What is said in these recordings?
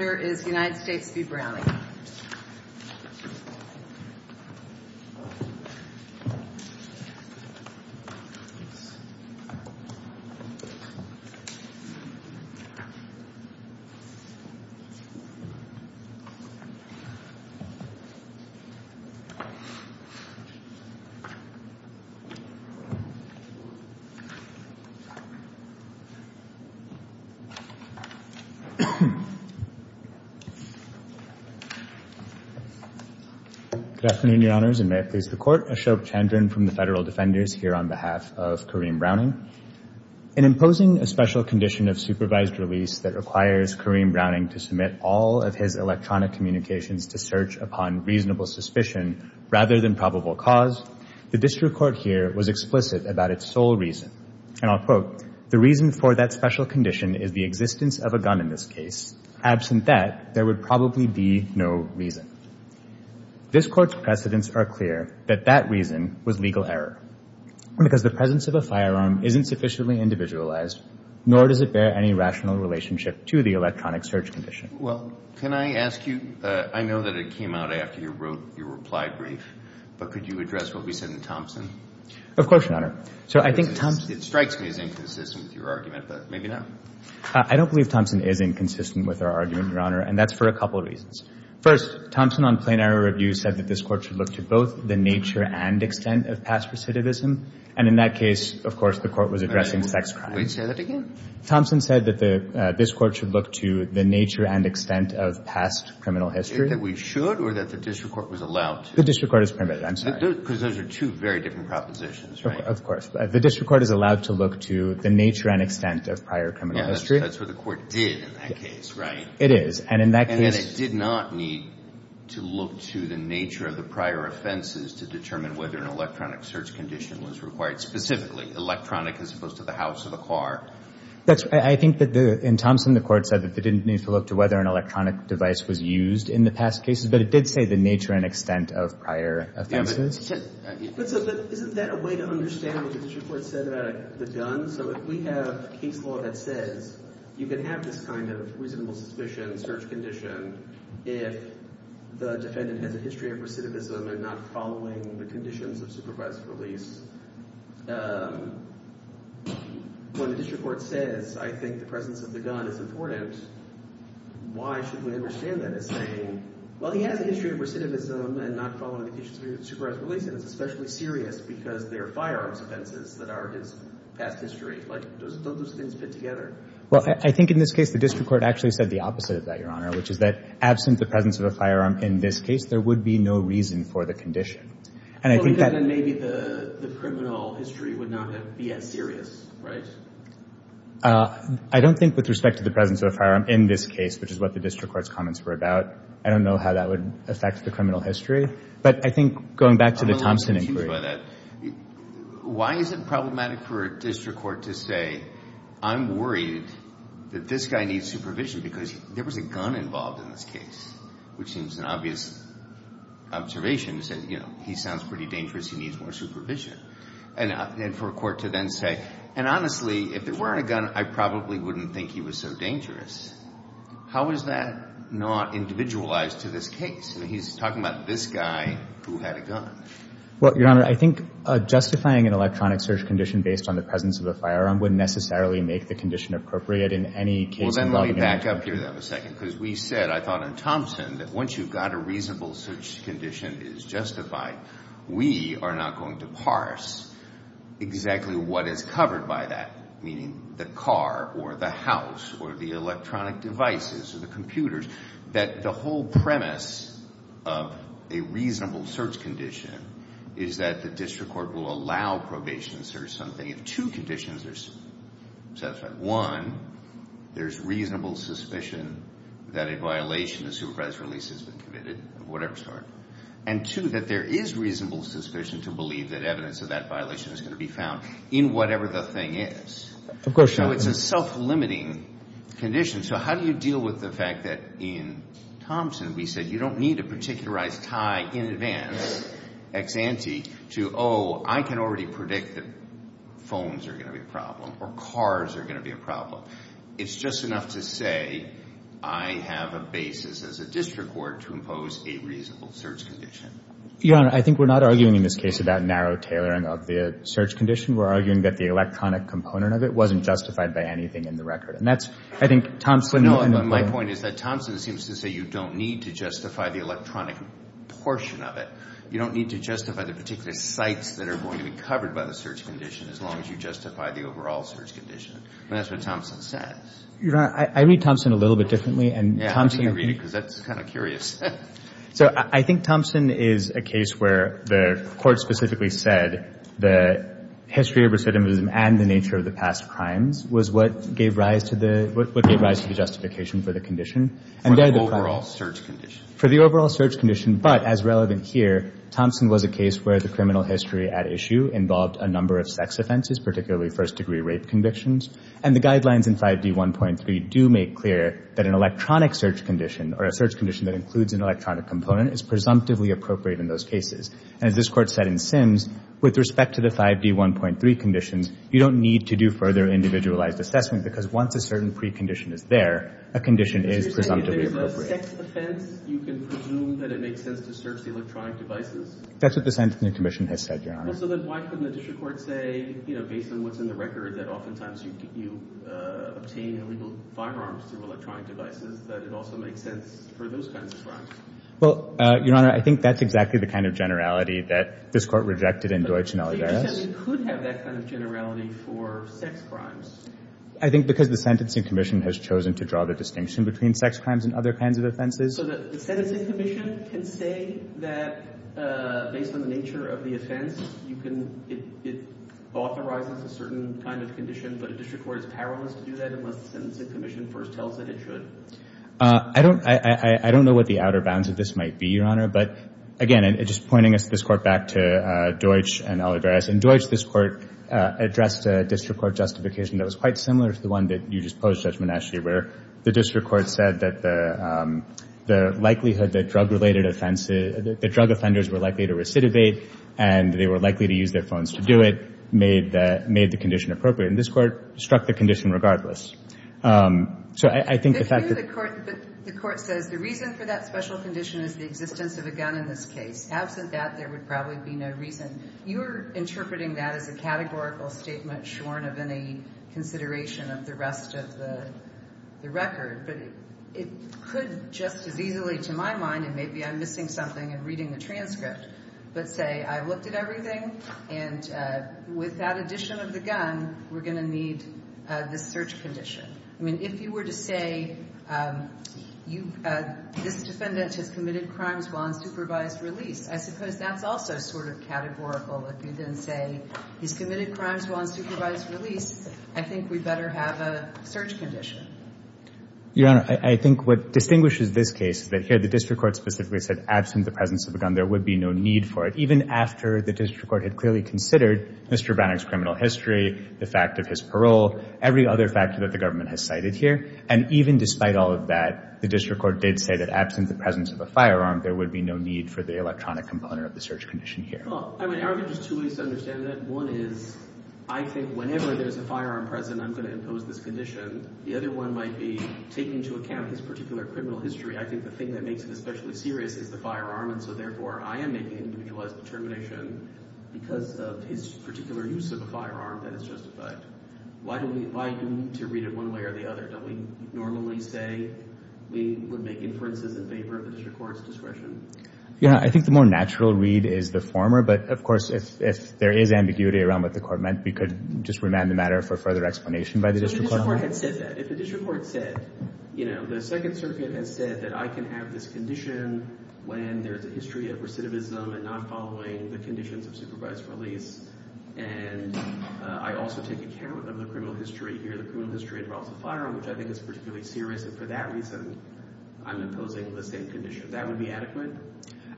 The first speaker is United States v. Browning. Ashok Chandran Good afternoon, Your Honors, and may it please the Court. Ashok Chandran from the Federal Defenders here on behalf of Kareem Browning. In imposing a special condition of supervised release that requires Kareem Browning to submit all of his electronic communications to search upon reasonable suspicion rather than probable cause, the district court here was explicit about its sole reason. And I'll quote, the reason for that special condition is the existence of a gun in this case. Absent that, there would probably be no reason. This Court's precedents are clear that that reason was legal error, because the presence of a firearm isn't sufficiently individualized, nor does it bear any rational relationship to the electronic search condition. Kennedy Well, can I ask you, I know that it came out after you wrote your reply brief, but could you address what we said in Thompson? Ashok Chandran Of course, Your Honor. So I think Thompson Kennedy It strikes me as inconsistent with your argument, but maybe not. Ashok Chandran I don't believe Thompson is inconsistent with our argument, Your Honor, and that's for a couple of reasons. First, Thompson on plain error review said that this Court should look to both the nature and extent of past recidivism, and in that case, of course, the Court was addressing sex crimes. Kennedy Wait. Say that again? Ashok Chandran Thompson said that this Court should look to the nature and extent of past criminal history. Kennedy Is it that we should, or that the district court was allowed to? Ashok Chandran The district court is permitted. I'm sorry. Kennedy Because those are two very different propositions, right? Ashok Chandran Of course. The district court is allowed to look to the nature and extent of prior criminal history. Kennedy That's what the Court did in that case, right? Ashok Chandran It is. And in that case Kennedy And it did not need to look to the nature of the prior offenses to determine whether an electronic search condition was required, specifically electronic as opposed to the house or the car. Ashok Chandran I think that in Thompson, the Court said that it didn't need to look to whether an electronic device was used in the past cases, but it did say the nature and extent of prior offenses. Kennedy But isn't that a way to understand what the district court said about the gun? So if we have case law that says you can have this kind of reasonable suspicion, search condition if the defendant has a history of recidivism and not following the conditions of supervised release, when the district court says, I think the presence of the gun is important, why should we understand that as saying, well, he has a history of recidivism and not following the conditions of supervised release, and it's especially serious because they're firearms offenses that are his past history. Like, don't those things fit together? Ashok Chandran Well, I think in this case the district court actually said the opposite of that, Your Honor, which is that absent the presence of a firearm in this case, there would be no reason for the condition. And I think that Kennedy Well, then maybe the criminal history would not be as serious, right? Ashok Chandran I don't think with respect to the presence of a firearm in this case, which is what the district court's comments were about, I don't know how that would affect the criminal history. But I think going back to the Thomson inquiry. Kennedy I'm a little confused by that. Why is it problematic for a district court to say, I'm worried that this guy needs supervision because there was a gun involved in this case, which seems an obvious observation to say, you know, he sounds pretty dangerous, he needs more supervision. And for a court to then say, and honestly, if it weren't a gun, I probably wouldn't think he was so dangerous. How is that not individualized to this case? I mean, he's talking about this guy who had a gun. Ashok Chandran Well, Your Honor, I think justifying an electronic search condition based on the presence of a firearm wouldn't necessarily make the condition appropriate in any case involving a firearm. Kennedy Well, then let me back up here for a second. Because we said, I thought in Thomson, that once you've got a reasonable search condition is justified, we are not going to parse exactly what is covered by that, meaning the car or the house or the electronic devices or the computers. That the whole premise of a reasonable search condition is that the district court will allow probation to search something if two conditions are satisfied. One, there's reasonable suspicion that a violation of the supervisor's release has been committed, of whatever sort. And two, that there is reasonable suspicion to believe that evidence of that violation is going to be found in whatever the thing is. Ashok Chandran Of course, Your Honor. Kennedy So it's a self-limiting condition. So how do you deal with the fact that in Thomson, we said, you don't need a particularized tie in advance, ex ante, to, oh, I can already predict that phones are going to be a problem or cars are going to be a problem. It's just enough to say, I have a basis as a district court to impose a reasonable search condition. Ashok Chandran Your Honor, I think we're not arguing in this case about narrow tailoring of the search condition. We're arguing that the electronic component of it wasn't justified by anything in the record. And that's, I think, Thomson. Kennedy No, and my point is that Thomson seems to say you don't need to justify the electronic portion of it. You don't need to justify the particular sites that are going to be covered by the search condition as long as you justify the overall search condition. And that's what Thomson says. Ashok Chandran Your Honor, I read Thomson a little bit differently and Thomson Kennedy Yeah, I think you read it because that's kind of curious. Ashok Chandran So I think Thomson is a case where the court specifically said the history of recidivism and the nature of the past crimes was what gave rise to the justification for the condition. And there the Kennedy For the overall search condition. Ashok Chandran For the overall search condition, but as relevant here, Thomson was a case where the criminal history at issue involved a number of sex offenses, particularly first degree rape convictions. And the guidelines in 5D1.3 do make clear that an electronic search condition or a search that includes an electronic component is presumptively appropriate in those cases. And as this court said in Sims, with respect to the 5D1.3 conditions, you don't need to do further individualized assessment because once a certain precondition is there, a condition is presumptively appropriate. Ashok Chandran If there's a sex offense, you can presume that it makes sense to search the electronic devices? Kennedy That's what the sentencing commission has said, Your Honor. Ashok Chandran Well, so then why couldn't the district court say, you know, based on what's in the record, that oftentimes you obtain illegal firearms through electronic devices, that it also makes sense for those kinds of crimes? Kennedy Well, Your Honor, I think that's exactly the kind of generality that this court rejected in Deutsch and Alvarez. Ashok Chandran But the agency could have that kind of generality for sex crimes? Kennedy I think because the sentencing commission has chosen to draw the distinction between sex crimes and other kinds of offenses. Ashok Chandran So the sentencing commission can say that, based on the nature of the offense, you can, it authorizes a certain kind of condition, but a district court is powerless to do that unless the sentencing commission first tells it it should? Kennedy I don't know what the outer part of that would be, Your Honor, but again, just pointing this court back to Deutsch and Alvarez, in Deutsch this court addressed a district court justification that was quite similar to the one that you just posed, Judge Menasche, where the district court said that the likelihood that drug-related offenses, that drug offenders were likely to recidivate, and they were likely to use their phones to do it, made the condition appropriate. And this court struck the condition regardless. So I think the fact that... Ashok Chandran So the conditional condition is the existence of a gun in this case. Absent that, there would probably be no reason. You're interpreting that as a categorical statement shorn of any consideration of the rest of the record, but it could just as easily, to my mind, and maybe I'm missing something in reading the transcript, but say I looked at everything, and with that addition of the gun, we're going to need this search condition. I mean, if you were to say, this defendant has committed crimes while on supervised release. I suppose that's also sort of categorical. If you then say, he's committed crimes while on supervised release, I think we better have a search condition. Judge Menasche Your Honor, I think what distinguishes this case is that here the district court specifically said, absent the presence of a gun, there would be no need for it. Even after the district court had clearly considered Mr. Bannock's criminal history, the fact of his parole, every other factor that the government has cited here. And even despite all of that, the district court did say that absent the presence of a firearm, there would be no need for the electronic component of the search condition here. I mean, there are just two ways to understand that. One is, I think whenever there's a firearm present, I'm going to impose this condition. The other one might be, taking into account his particular criminal history, I think the thing that makes it especially serious is the firearm. And so therefore, I am making individualized determination because of his particular use of a firearm that is justified. Why do we need to read it one way or the other? Don't we normally say we would make inferences in favor of the district court's discretion? I think the more natural read is the former, but of course, if there is ambiguity around what the court meant, we could just remand the matter for further explanation by the district court. So if the district court had said that, if the district court said, you know, the Second Circuit has said that I can have this condition when there's a history of recidivism and not following the conditions of supervised release, and I also take account of the criminal history here. The criminal history involves a firearm, which I think is particularly serious. And for that reason, I'm imposing the same condition. That would be adequate.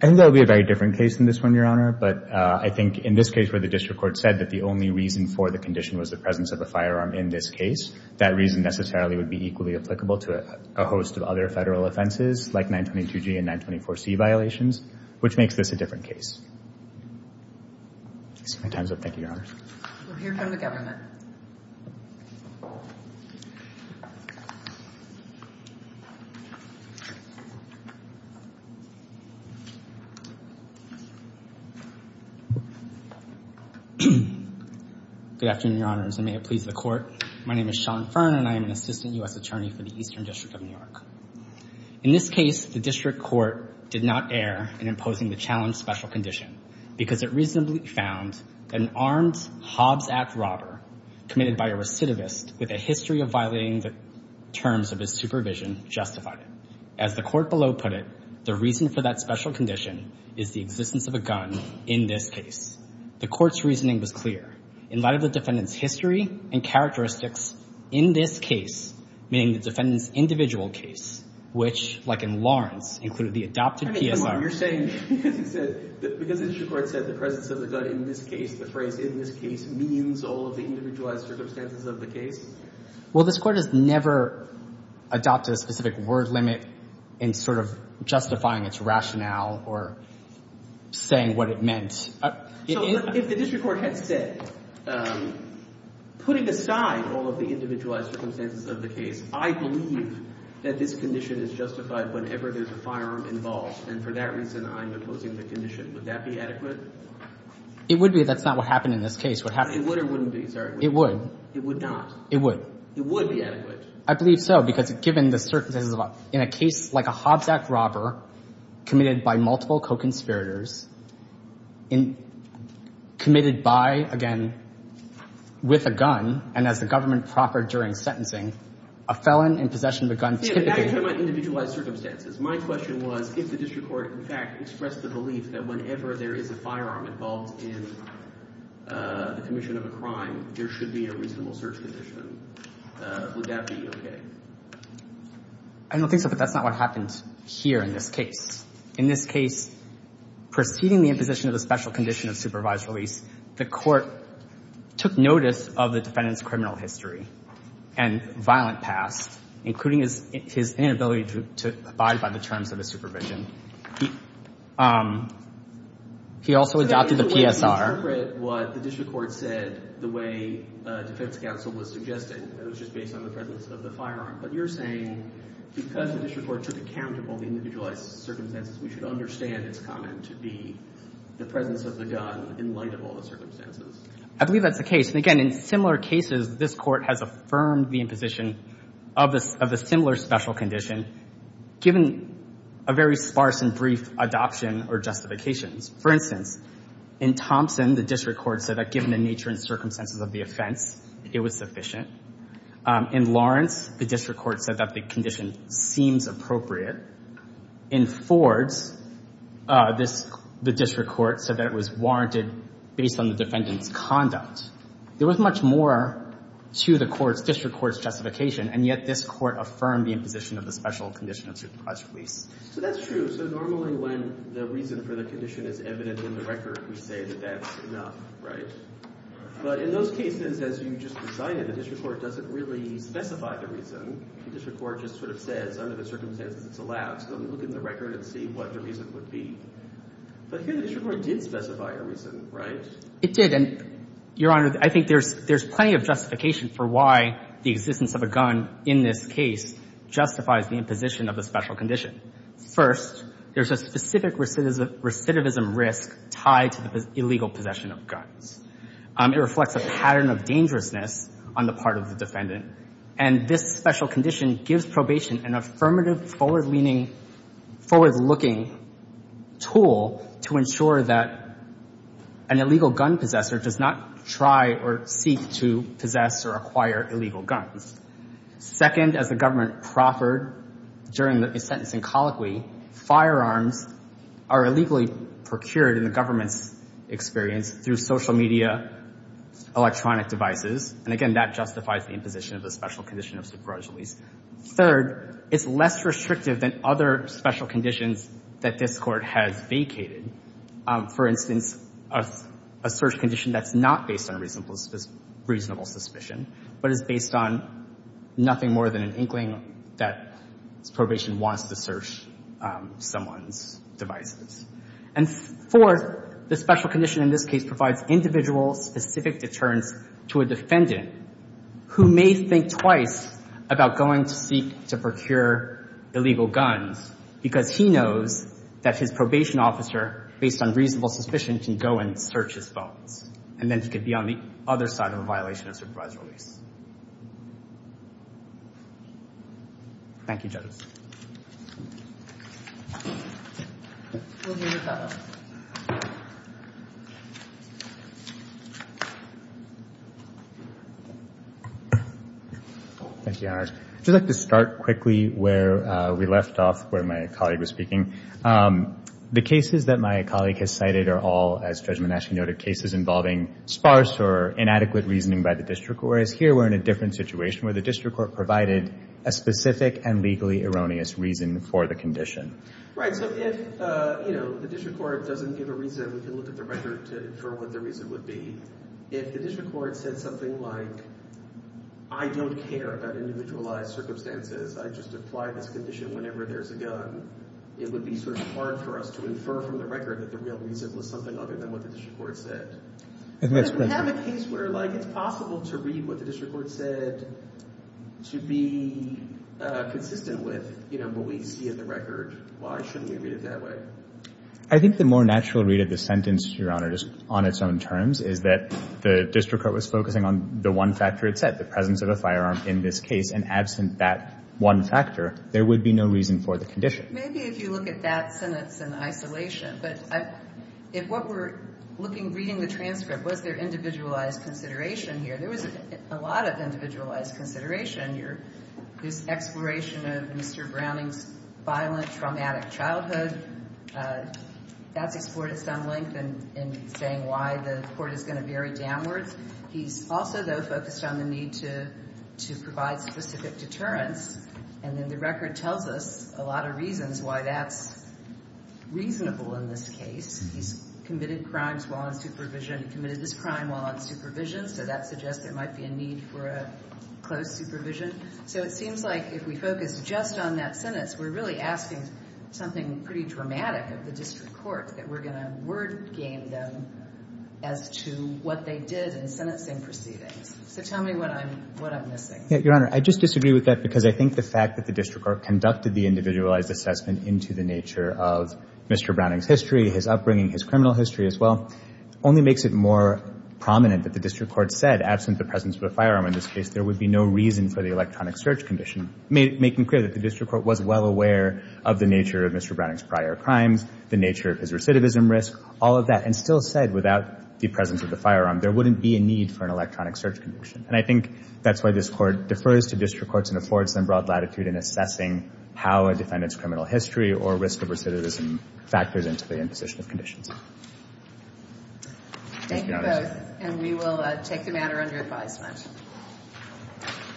I think that would be a very different case than this one, Your Honor. But I think in this case where the district court said that the only reason for the condition was the presence of a firearm in this case, that reason necessarily would be equally applicable to a host of other federal offenses, like 922G and 924C violations, which makes this a different case. My time's up. Thank you, Your Honor. We'll hear from the government. Good afternoon, Your Honors, and may it please the Court. My name is Sean Fearn, and I am an assistant U.S. attorney for the Eastern District of New York. In this case, the district court did not err in imposing the challenge special condition because it reasonably found that an armed Hobbs Act robber committed by a recidivist with a history of violating the terms of his supervision justified it. As the court below put it, the reason for that special condition is the existence of a gun in this case. The court's reasoning was clear. In light of the defendant's history and characteristics in this case, meaning the defendant's individual case, which, like in Lawrence, included the adopted PSR. You're saying, because the district court said the presence of the gun in this case, the phrase in this case, means all of the individualized circumstances of the case? Well, this Court has never adopted a specific word limit in sort of justifying its rationale or saying what it meant. So if the district court had said, putting aside all of the individualized circumstances of the case, I believe that this condition is justified whenever there's a firearm involved. And for that reason, I'm opposing the condition. Would that be adequate? It would be. That's not what happened in this case. It would or wouldn't be. It would. It would not. It would. It would be adequate. I believe so, because given the circumstances in a case like a Hobbs Act robber committed by multiple co-conspirators, committed by, again, with a gun, and as the government proffered during sentencing, a felon in possession of a gun typically Yeah, but now you're talking about individualized circumstances. My question was, if the district court, in fact, expressed the belief that whenever there is a firearm involved in the commission of a crime, there should be a reasonable search condition. Would that be okay? I don't think so, but that's not what happened here in this case. In this case, preceding the imposition of the special condition of supervised release, the Court took notice of the defendant's criminal history and violent past, including his inability to abide by the terms of his supervision. He also adopted the PSR. So, I get the way you interpret what the district court said, the way defense counsel was suggesting, that it was just based on the presence of the firearm. But you're saying, because the district court took account of all the individualized circumstances, we should understand its comment to be the presence of the gun in light of all the circumstances. I believe that's the case. Again, in similar cases, this Court has affirmed the imposition of a similar special condition given a very sparse and brief adoption or justifications. For instance, in Thompson, the district court said that given the nature and circumstances of the offense, it was sufficient. In Lawrence, the district court said that the condition seems appropriate. In Fords, the district court said that it was warranted based on the defendant's conduct. There was much more to the district court's justification, and yet this court affirmed the imposition of the special condition of supervised release. So, that's true. So, normally, when the reason for the condition is evident in the record, we say that that's enough, right? But in those cases, as you just presided, the district court doesn't really specify the reason. The district court just sort of says, under the circumstances, it's allowed. So, we look at the record and see what the reason would be. But here, the district court did specify a reason, right? It did. And, Your Honor, I think there's plenty of justification for why the existence of a gun in this case justifies the imposition of a special condition. First, there's a specific recidivism risk tied to the illegal possession of guns. It reflects a pattern of dangerousness on the part of the defendant. And this special condition gives probation an affirmative, forward-leaning, forward-looking tool to ensure that an illegal gun possessor does not try or seek to possess or acquire illegal guns. Second, as the government proffered during the sentencing colloquy, firearms are illegally procured in the government's experience through social media, electronic devices. And, again, that justifies the imposition of the special condition of superjudice. Third, it's less restrictive than other special conditions that this Court has vacated. For instance, a search condition that's not based on reasonable suspicion, but is based on nothing more than an inkling that probation wants to search someone's devices. And fourth, the special condition in this case provides individual specific deterrence to a defendant who may think twice about going to seek to procure illegal guns because he knows that his probation officer, based on reasonable suspicion, can go and search his phones. And then he could be on the other side of a violation of supervised release. Thank you, judges. Thank you, Your Honor. I'd just like to start quickly where we left off, where my colleague was speaking. The cases that my colleague has cited are all, as Judge Monash noted, cases involving sparse or inadequate reasoning by the district court, whereas here we're in a different situation where the district court provided a specific and legally erroneous reason for the condition. Right. So if the district court doesn't give a reason, we can look at the record to infer what the reason would be. If the district court said something like, I don't care about individualized circumstances, I just apply this condition whenever there's a gun, it would be sort of hard for us to infer from the record that the real reason was something other than what the district court said. But if we have a case where it's possible to read what the district court said to be consistent with what we see in the record, why shouldn't we read it that way? I think the more natural read of the sentence, Your Honor, on its own terms, is that the district court was focusing on the one factor it said, the presence of a firearm in this case, and absent that one factor, there would be no reason for the condition. Maybe if you look at that sentence in isolation. But if what we're looking, reading the transcript, was there individualized consideration here? There was a lot of individualized consideration here. There's exploration of Mr. Browning's violent, traumatic childhood. That's explored at some length in saying why the court is going to vary downwards. He's also, though, focused on the need to provide specific deterrence. And then the record tells us a lot of reasons why that's reasonable in this case. He's committed crimes while on supervision. He committed this crime while on supervision. So that suggests there might be a need for a closed supervision. So it seems like if we focus just on that sentence, we're really asking something pretty dramatic of the district court, that we're going to word game them as to what they did in sentencing proceedings. So tell me what I'm missing. Your Honor, I just disagree with that because I think the fact that the district court conducted the individualized assessment into the nature of Mr. Browning's history, his upbringing, his criminal history as well, only makes it more prominent that the district court said, absent the presence of a firearm in this case, there would be no reason for the electronic search condition, making clear that the district court was well aware of the nature of Mr. Browning's prior crimes, the nature of his recidivism risk, all of that, and still said without the presence of the firearm, there wouldn't be a need for an electronic search condition. And I think that's why this court defers to district courts and affords them broad latitude in assessing how a defendant's criminal history or risk of recidivism factors into the imposition of conditions. Thank you both. And we will take the matter under advisement.